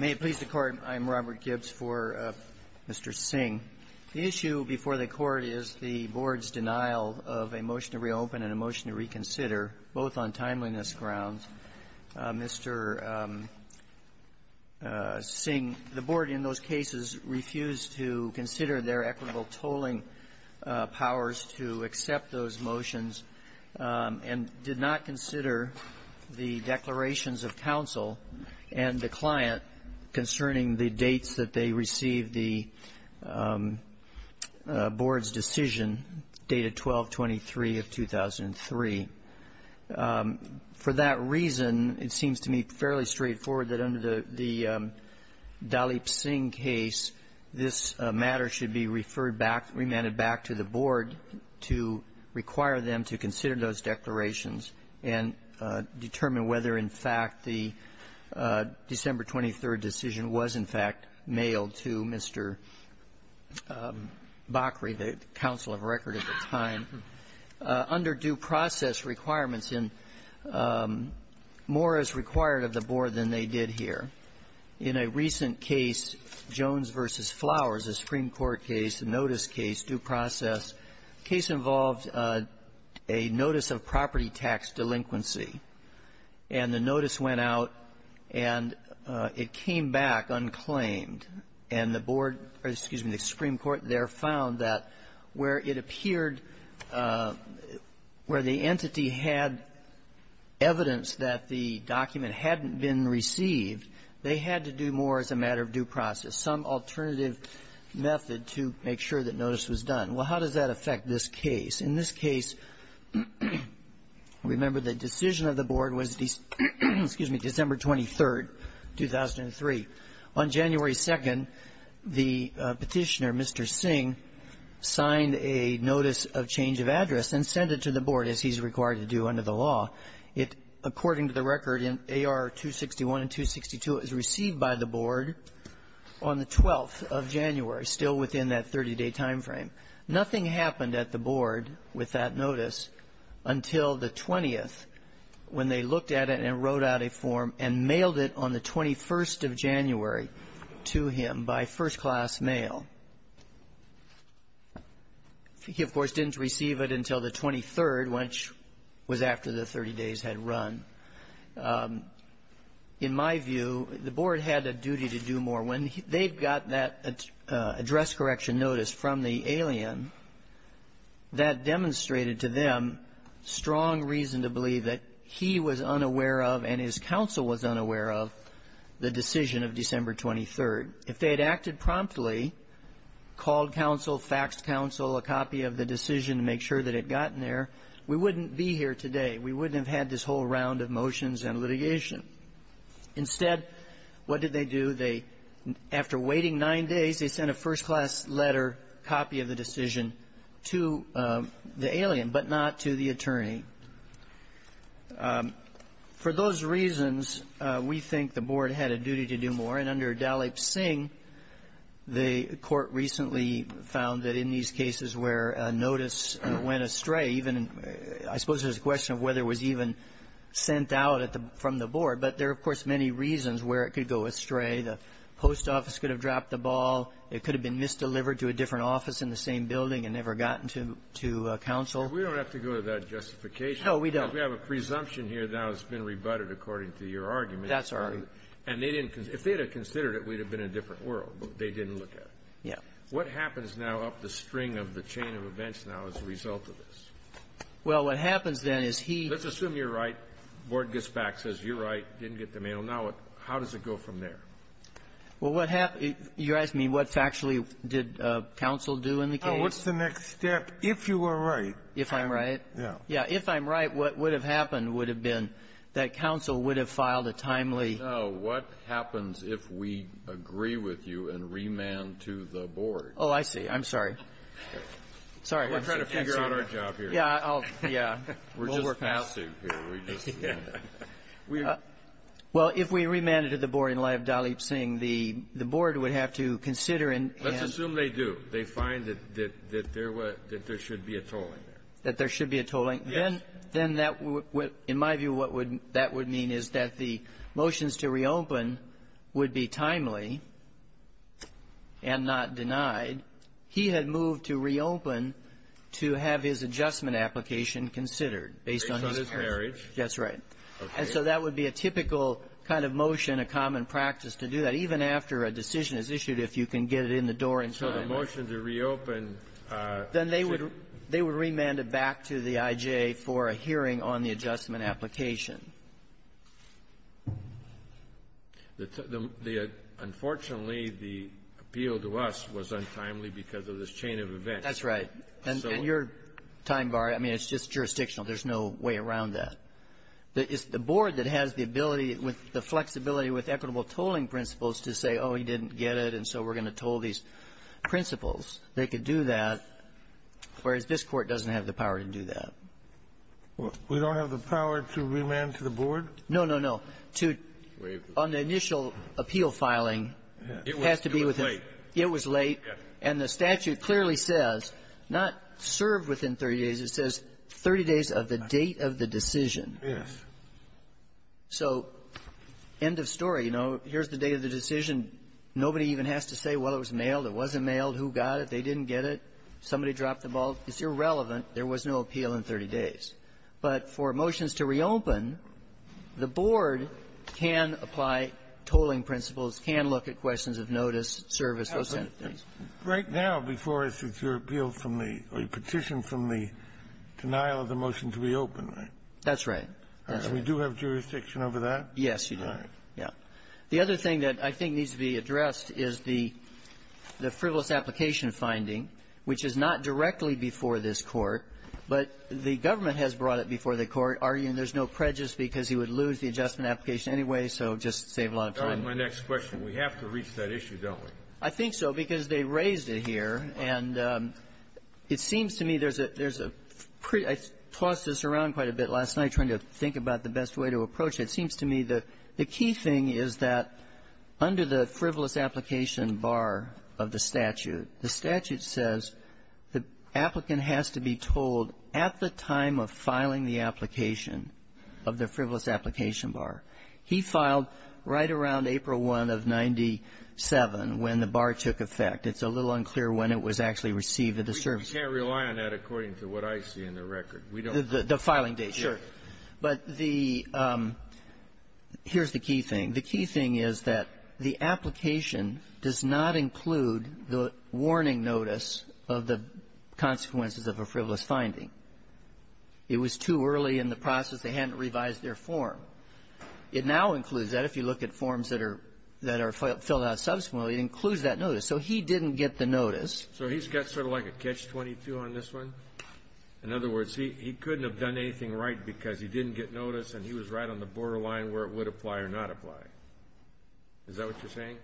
May it please the Court, I'm Robert Gibbs for Mr. Singh. The issue before the Court is the Board's denial of a motion to reopen and a motion to reconsider, both on timeliness grounds. Mr. Singh, the Board in those cases refused to consider their equitable tolling powers to accept those motions, and did not consider the declarations of counsel and the client concerning the dates that they received the Board's decision dated 12-23 of 2003. For that reason, it seems to me fairly straightforward that under the Dalip Singh case, this matter should be referred back, remanded back to the Board to require them to consider those declarations and determine whether, in fact, the December 23 decision was, in fact, mailed to Mr. Bakri, the counsel of record at the time, under due process requirements and more as required of the Board than they did here. In a recent case, Jones v. Flowers, a Supreme Court case, a notice case, due process, the case involved a notice of property tax delinquency. And the notice went out, and it came back unclaimed. And the Board or, excuse me, the Supreme Court there found that where it appeared where the entity had evidence that the document hadn't been received, they had to do more as a matter of due process, some alternative method to make sure that notice was done. Well, how does that affect this case? In this case, remember, the decision of the Board was December 23, 2003. On January 2nd, the Petitioner, Mr. Singh, signed a notice of change of address and sent it to the Board, as he's required to do under the law. It, according to the record in AR 261 and 262, it was received by the Board on the 12th of January, still within that 30-day time frame. Nothing happened at the Board with that notice until the 20th, when they looked at it and wrote out a form and mailed it on the 21st of January to him by first-class mail. He, of course, didn't receive it until the 23rd, which was after the 30 days had run. In my view, the Board had a duty to do more. When they got that address correction notice from the alien, that demonstrated to them strong reason to believe that he was unaware of and his counsel was unaware of the decision of December 23rd. If they had acted promptly, called counsel, faxed counsel a copy of the decision to make sure that it had gotten there, we wouldn't be here today. We wouldn't have had this whole round of motions and litigation. Instead, what did they do? They, after waiting nine days, they sent a first-class letter copy of the decision to the alien, but not to the attorney. For those reasons, we think the Board had a duty to do more. And under Dalip Singh, the Court recently found that in these cases where a notice went astray, even I suppose there's a question of whether it was even sent out from the Board, but there are, of course, many reasons where it could go astray. The post office could have dropped the ball. It could have been misdelivered to a different office in the same building and never gotten to counsel. And we don't have to go to that justification. No, we don't. Because we have a presumption here that has been rebutted according to your argument. That's our argument. And they didn't consider it. If they had considered it, we'd have been in a different world, but they didn't look at it. Yeah. What happens now up the string of the chain of events now as a result of this? Well, what happens then is he — Let's assume you're right. The Board gets back, says you're right, didn't get the mail. Now what — how does it go from there? Well, what happens — you're asking me what factually did counsel do in the case? No. What's the next step if you were right? If I'm right? Yeah. Yeah. If I'm right, what would have happened would have been that counsel would have filed a timely — No. What happens if we agree with you and remand to the Board? Oh, I see. I'm sorry. Sorry. I'm sorry. We're trying to figure out our job here. Yeah. I'll — yeah. We'll work that out. We're just passive here. We just — Well, if we remanded to the Board in light of Dalip Singh, the Board would have to consider and — Let's assume they do. They find that there should be a tolling. That there should be a tolling? Yes. Then that would — in my view, what that would mean is that the motions to reopen would be timely and not denied. He had moved to reopen to have his adjustment application considered based on his — Based on his marriage. Okay. And so that would be a typical kind of motion, a common practice to do that, even after a decision is issued, if you can get it in the door in time. So the motion to reopen — Then they would — they would remand it back to the IJA for a hearing on the adjustment application. Unfortunately, the appeal to us was untimely because of this chain of events. That's right. And your time bar, I mean, it's just jurisdictional. There's no way around that. It's the board that has the ability with the flexibility with equitable tolling principles to say, oh, he didn't get it, and so we're going to toll these principles. They could do that, whereas this Court doesn't have the power to do that. We don't have the power to remand to the board? No, no, no. To — On the initial appeal filing, it has to be with — It was late. It was late. Yes. And the statute clearly says, not served within 30 days, it says 30 days of the date of the decision. Yes. So end of story. You know, here's the date of the decision. Nobody even has to say, well, it was mailed. It wasn't mailed. Who got it? They didn't get it. Somebody dropped the ball. It's irrelevant. There was no appeal in 30 days. But for motions to reopen, the board can apply tolling principles, can look at questions of notice, service, those kinds of things. Right now, before us, it's your appeal from the — or your petition from the denial of the motion to reopen, right? That's right. And we do have jurisdiction over that? Yes, you do. Right. Yeah. The other thing that I think needs to be addressed is the frivolous application finding, which is not directly before this Court, but the government has brought it before the Court, arguing there's no prejudice because he would lose the adjustment application anyway, so just save a lot of time. My next question. We have to reach that issue, don't we? I think so, because they raised it here. And it seems to me there's a — there's a — I tossed this around quite a bit last night trying to think about the best way to approach it. It seems to me that the key thing is that under the frivolous application bar of the statute, the statute says the applicant has to be tolled at the time of filing the application of the frivolous application bar. He filed right around April 1 of 97 when the bar took effect. It's a little unclear when it was actually received at the service. We can't rely on that according to what I see in the record. We don't. The filing date. Sure. But the — here's the key thing. The key thing is that the application does not include the warning notice of the consequences of a frivolous finding. It was too early in the process. They hadn't revised their form. It now includes that. If you look at forms that are — that are filled out subsequently, it includes that notice. So he didn't get the notice. So he's got sort of like a catch-22 on this one? In other words, he couldn't have done anything right because he didn't get notice and he was right on the borderline where it would apply or not apply. Is that what you're saying?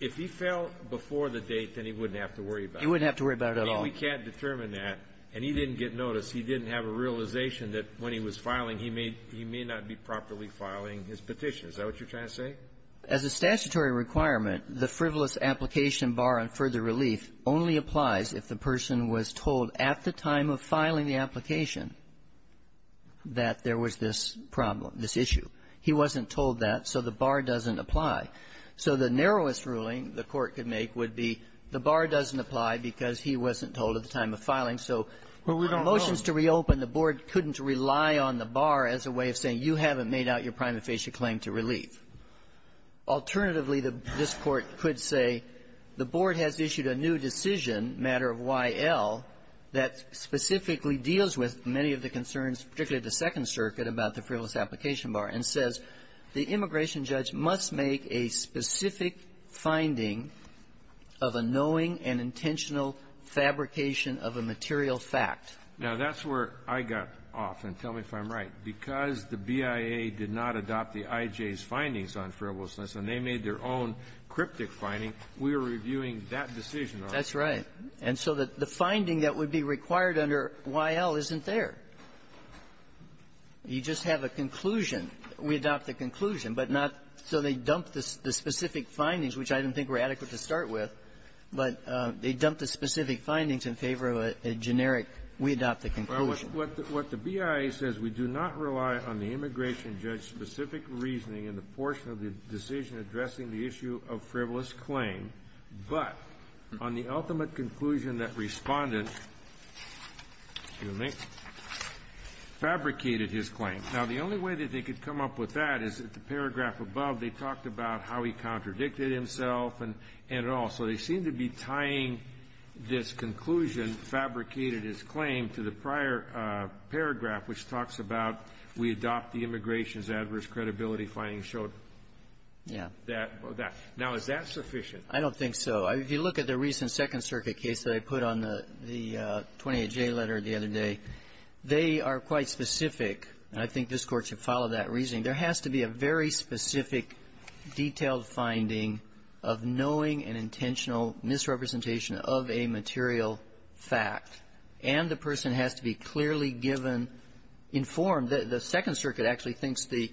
If he fell before the date, then he wouldn't have to worry about it. He wouldn't have to worry about it at all. I mean, we can't determine that. And he didn't get notice. He didn't have a realization that when he was filing, he may not be properly filing his petition. Is that what you're trying to say? As a statutory requirement, the frivolous application bar on further relief only applies if the person was told at the time of filing the application that there was this problem, this issue. He wasn't told that, so the bar doesn't apply. So the narrowest ruling the Court could make would be the bar doesn't apply because he wasn't told at the time of filing. So motions to reopen, the board couldn't rely on the bar as a way of saying you haven't made out your prima facie claim to relief. Alternatively, this Court could say the board has issued a new decision, matter of Y.L., that specifically deals with many of the concerns, particularly the Second Circuit, about the frivolous application bar and says the immigration judge must make a specific finding of a knowing and intentional fabrication of a material fact. Now, that's where I got off, and tell me if I'm right. Because the BIA did not adopt the I.J.'s findings on frivolousness and they made their own cryptic finding, we were reviewing that decision on it. That's right. And so the finding that would be required under Y.L. isn't there. You just have a conclusion. We adopt the conclusion, but not so they dump the specific findings, which I don't think we're adequate to start with, but they dump the specific findings in favor of a generic, we adopt the conclusion. Well, what the BIA says, we do not rely on the immigration judge's specific reasoning in the portion of the decision addressing the issue of frivolous claim, but on the ultimate conclusion that Respondent, excuse me, fabricated his claim. Now, the only way that they could come up with that is that the paragraph above, they talked about how he contradicted himself and it all. So they seem to be tying this conclusion, fabricated his claim, to the prior paragraph, which talks about we adopt the immigration's adverse credibility findings. Yeah. Now, is that sufficient? I don't think so. If you look at the recent Second Circuit case that I put on the 28J letter the other day, they are quite specific, and I think this Court should follow that reasoning. There has to be a very specific, detailed finding of knowing and intentional misrepresentation of a material fact, and the person has to be clearly given, informed. The Second Circuit actually thinks the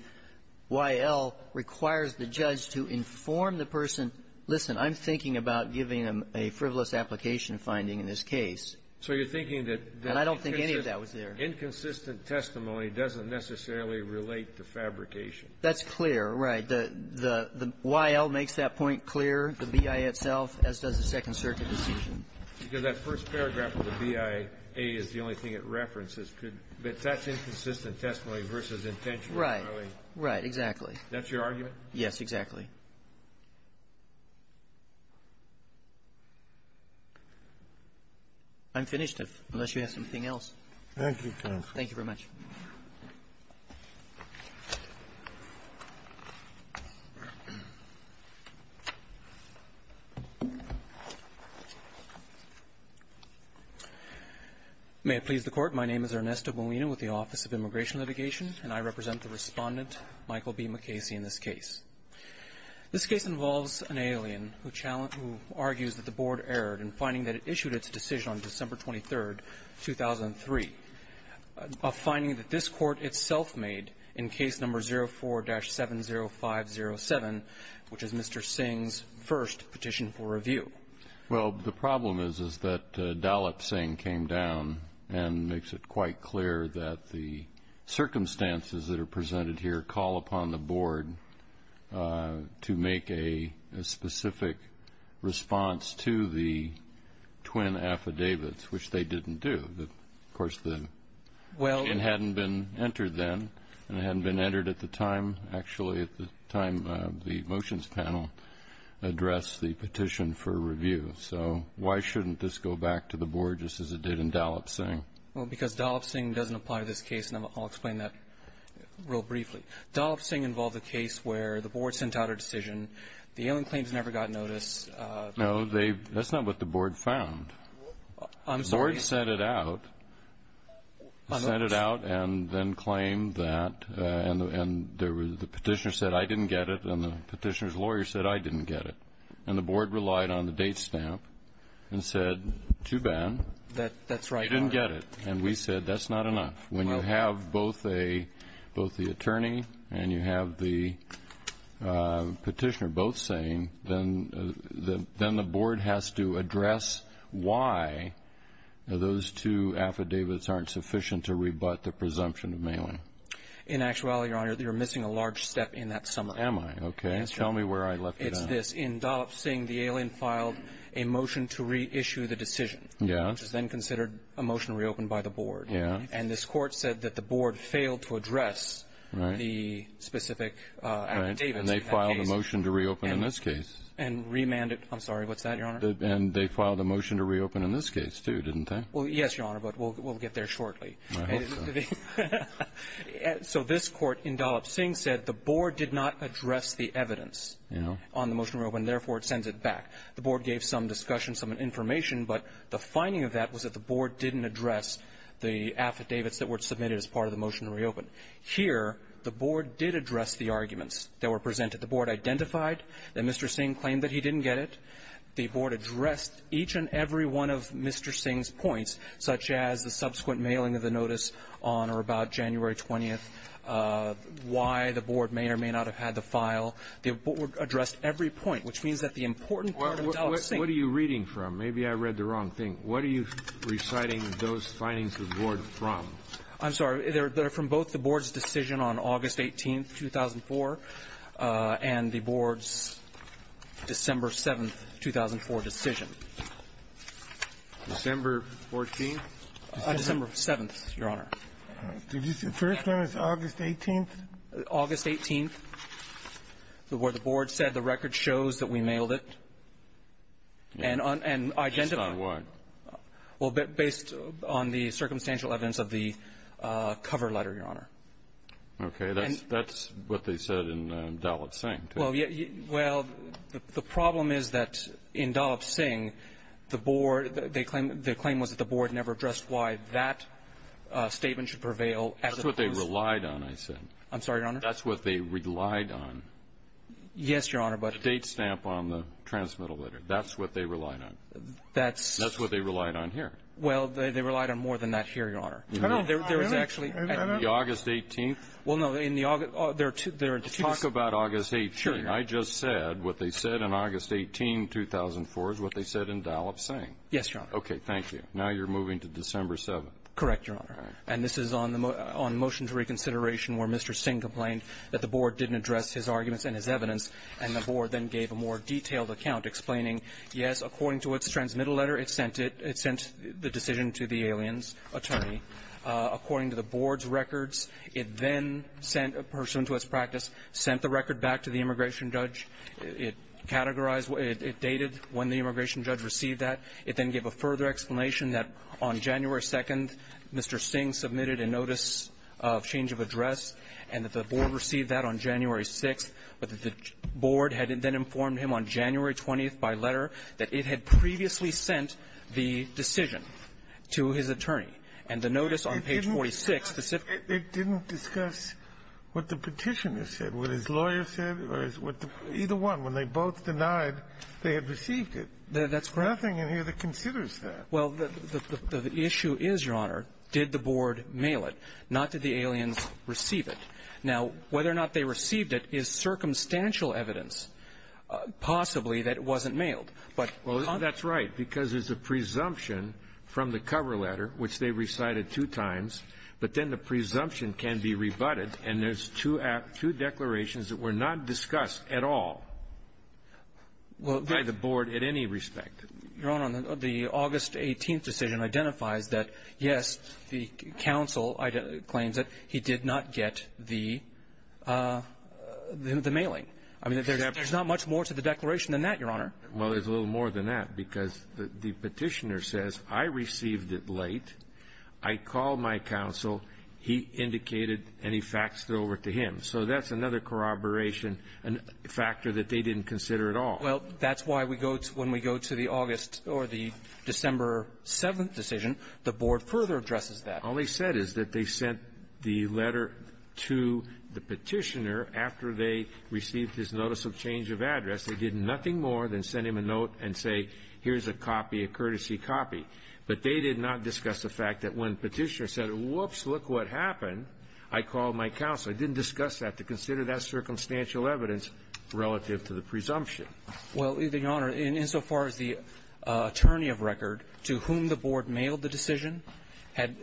Y.L. requires the judge to inform the person, listen, I'm thinking about giving them a frivolous application finding in this case. So you're thinking that the inconsistent And I don't think any of that was there. Inconsistent testimony doesn't necessarily relate to fabrication. That's clear, right. The Y.L. makes that point clear, the B.I. itself, as does the Second Circuit decision. Because that first paragraph of the B.I.A. is the only thing it references. Could that's inconsistent testimony versus intentional? Right. Right. Exactly. That's your argument? Yes, exactly. I'm finished, unless you have something else. Thank you, counsel. Thank you very much. May it please the Court. My name is Ernesto Molina with the Office of Immigration Litigation, and I represent the Respondent, Michael B. McKaysee, in this case. This case involves an alien who argues that the Board erred in finding that it issued its decision on December 23rd, 2003, a finding that this Court itself made in case number 04-70507, which is Mr. Singh's first petition for review. Well, the problem is that Dalip Singh came down and makes it quite clear that the circumstances that are presented here call upon the Board to make a specific response to the twin affidavits, which they didn't do. Of course, the question hadn't been entered then, and it hadn't been entered at the time, actually, at the time the motions panel addressed the petition for review. So why shouldn't this go back to the Board just as it did in Dalip Singh? Well, because Dalip Singh doesn't apply to this case, and I'll explain that real briefly. Dalip Singh involved a case where the Board sent out a decision, the alien claims never got notice. No, that's not what the Board found. I'm sorry? The Board sent it out, sent it out and then claimed that, and the petitioner said, I didn't get it, and the petitioner's lawyer said, I didn't get it. And the Board relied on the date stamp and said, too bad. That's right. They didn't get it. And we said, that's not enough. When you have both the claim, then the Board has to address why those two affidavits aren't sufficient to rebut the presumption of mailing. In actuality, Your Honor, you're missing a large step in that summary. Am I? Okay. Tell me where I left it off. It's this. In Dalip Singh, the alien filed a motion to reissue the decision, which is then considered a motion reopened by the Board. And this Court said that the Board failed to address the specific affidavits of that case. They filed a motion to reopen in this case. And remanded. I'm sorry. What's that, Your Honor? And they filed a motion to reopen in this case, too, didn't they? Well, yes, Your Honor, but we'll get there shortly. I hope so. So this Court in Dalip Singh said the Board did not address the evidence on the motion reopened, and therefore it sends it back. The Board gave some discussion, some information, but the finding of that was that the Board didn't address the affidavits that were submitted as part of the motion to reopen. Here, the Board did address the arguments that were presented. The Board identified that Mr. Singh claimed that he didn't get it. The Board addressed each and every one of Mr. Singh's points, such as the subsequent mailing of the notice on or about January 20th, why the Board may or may not have had the file. The Board addressed every point, which means that the important part of Dalip Singh What are you reading from? Maybe I read the wrong thing. What are you reciting those findings of the Board from? I'm sorry. They're from both the Board's decision on August 18th, 2004, and the Board's December 7th, 2004 decision. December 14th? December 7th, Your Honor. Did you say the first one was August 18th? August 18th, where the Board said the record shows that we mailed it. And identified the file. Well, based on the circumstantial evidence of the cover letter, Your Honor. Okay. That's what they said in Dalip Singh, too. Well, the problem is that in Dalip Singh, the Board, the claim was that the Board never addressed why that statement should prevail as opposed to That's what they relied on, I said. I'm sorry, Your Honor? That's what they relied on. Yes, Your Honor, but The date stamp on the transmittal letter. That's what they relied on. That's That's what they relied on here. Well, they relied on more than that here, Your Honor. There was actually On August 18th? Well, no. In the August – there are two – there are two Talk about August 18th. Sure, Your Honor. I just said what they said in August 18, 2004, is what they said in Dalip Singh. Yes, Your Honor. Okay. Thank you. Now you're moving to December 7th. Correct, Your Honor. And this is on the – on motion to reconsideration where Mr. Singh complained that the Board didn't address his arguments and his evidence, and the Board then gave a more detailed account explaining, yes, according to its transmittal letter, it sent it – it sent the decision to the alien's attorney. According to the Board's records, it then sent a person to its practice, sent the record back to the immigration judge. It categorized – it dated when the immigration judge received that. It then gave a further explanation that on January 2nd, Mr. Singh submitted a notice of change of address, and that the Board received that on January 6th, but that the Board had then informed him on January 20th by letter that it had previously sent the decision to his attorney. And the notice on page 46, the – It didn't discuss what the petitioner said, what his lawyer said, or what the – either one. When they both denied they had received it. That's correct. Nothing in here that considers that. Well, the issue is, Your Honor, did the Board mail it, not did the aliens receive it. Now, whether or not they received it is circumstantial evidence, possibly, that it wasn't mailed. But – Well, that's right, because there's a presumption from the cover letter, which they recited two times, but then the presumption can be rebutted, and there's two declarations that were not discussed at all by the Board at any respect. Your Honor, the August 18th decision identifies that, yes, the counsel claims that he did not get the mailing. I mean, there's not much more to the declaration than that, Your Honor. Well, there's a little more than that, because the petitioner says, I received it late, I called my counsel, he indicated, and he faxed it over to him. So that's another corroboration factor that they didn't consider at all. Well, that's why we go to – when we go to the August or the December 7th decision, the Board further addresses that. All they said is that they sent the letter to the petitioner after they received his notice of change of address. They did nothing more than send him a note and say, here's a copy, a courtesy copy. But they did not discuss the fact that when the petitioner said, whoops, look what happened, I called my counsel. They didn't discuss that to consider that circumstantial evidence relative to the presumption. Well, Your Honor, insofar as the attorney of record to whom the Board mailed the decision had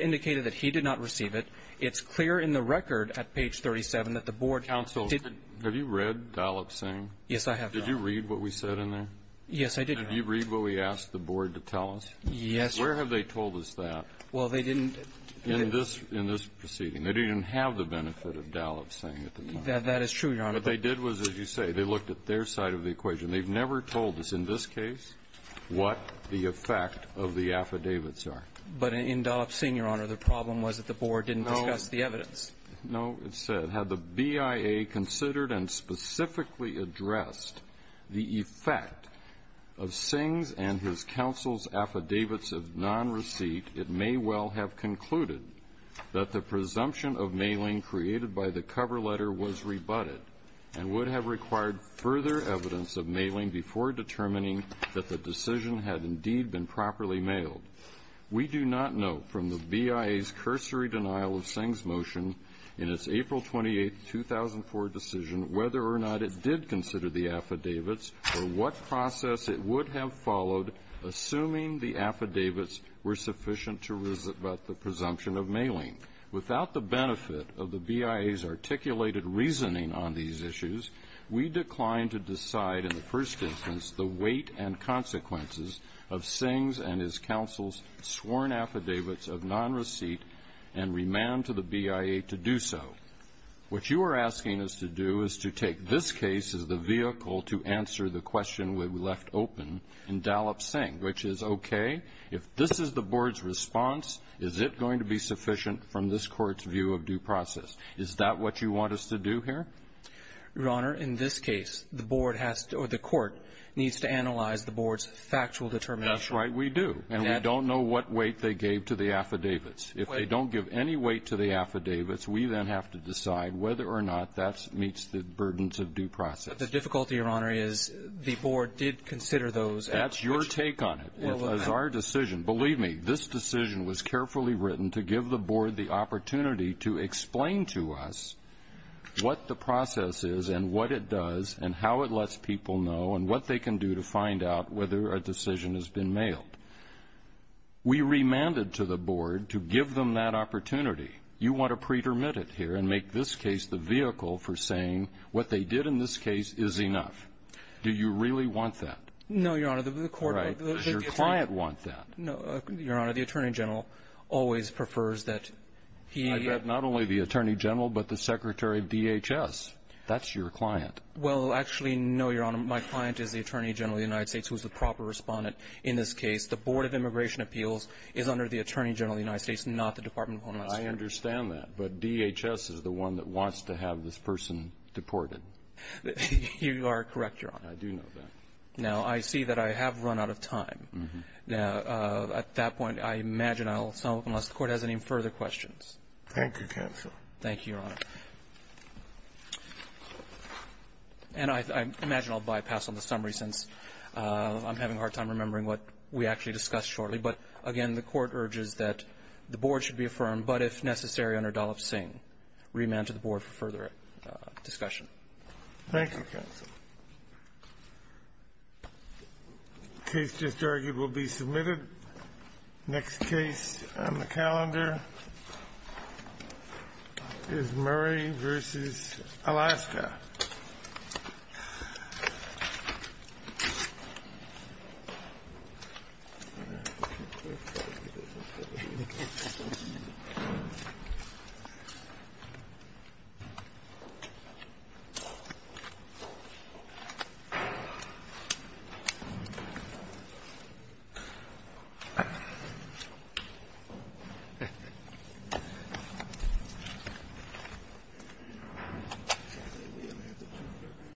indicated that he did not receive it, it's clear in the record at page 37 that the Board counsel didn't – Have you read Gallup's thing? Yes, I have, Your Honor. Did you read what we said in there? Yes, I did, Your Honor. Did you read what we asked the Board to tell us? Yes. Where have they told us that in this proceeding? They didn't have the benefit of Gallup's thing at the time. That is true, Your Honor. What they did was, as you say, they looked at their side of the equation. They've never told us in this case what the effect of the affidavits are. But in Gallup's thing, Your Honor, the problem was that the Board didn't discuss the evidence. No, it said, had the BIA considered and specifically addressed the effect of Singh's and his counsel's affidavits of non-receipt, it may well have concluded that the presumption of mailing created by the cover letter was rebutted and would have required further evidence of mailing before determining that the decision had indeed been properly mailed. We do not know from the BIA's cursory denial of Singh's motion in its April 28, 2004 decision whether or not it did consider the affidavits or what process it would have followed assuming the affidavits were sufficient to rebut the presumption of mailing. Without the benefit of the BIA's articulated reasoning on these issues, we declined to decide in the first instance the weight and consequences of Singh's and his counsel's sworn affidavits of non-receipt and remand to the BIA to do so. What you are asking us to do is to take this case as the vehicle to answer the question we left open in Gallup-Singh, which is, okay, if this is the Board's response, is it going to be sufficient from this Court's view of due process? Is that what you want us to do here? Your Honor, in this case, the Board has to or the Court needs to analyze the Board's factual determination. That's right, we do. And we don't know what weight they gave to the affidavits. If they don't give any weight to the affidavits, we then have to decide whether or not that meets the burdens of due process. But the difficulty, Your Honor, is the Board did consider those. That's your take on it. It was our decision. Believe me, this decision was carefully written to give the Board the opportunity to explain to us what the process is and what it does and how it lets people know and what they can do to find out whether a decision has been mailed. We remanded to the Board to give them that opportunity. You want to pretermit it here and make this case the vehicle for saying what they did in this case is enough. Do you really want that? No, Your Honor. The Court or the Attorney General? Your client wants that. No, Your Honor. The Attorney General always prefers that he... I bet not only the Attorney General but the Secretary of DHS. That's your client. Well, actually, no, Your Honor. My client is the Attorney General of the United States, who is the proper Respondent in this case. The Board of Immigration Appeals is under the Attorney General of the United States, not the Department of Homeland Security. I understand that. But DHS is the one that wants to have this person deported. You are correct, Your Honor. I do know that. Now, I see that I have run out of time. Mm-hmm. Now, at that point, I imagine I'll stop unless the Court has any further questions. Thank you, counsel. Thank you, Your Honor. And I imagine I'll bypass on the summary, since I'm having a hard time remembering what we actually discussed shortly. But, again, the Court urges that the Board should be affirmed, but if necessary, under Dollop-Singh. Remand to the Board for further discussion. Thank you, counsel. Case just argued will be submitted. Next case on the calendar is Murray v. Alaska. Thank you.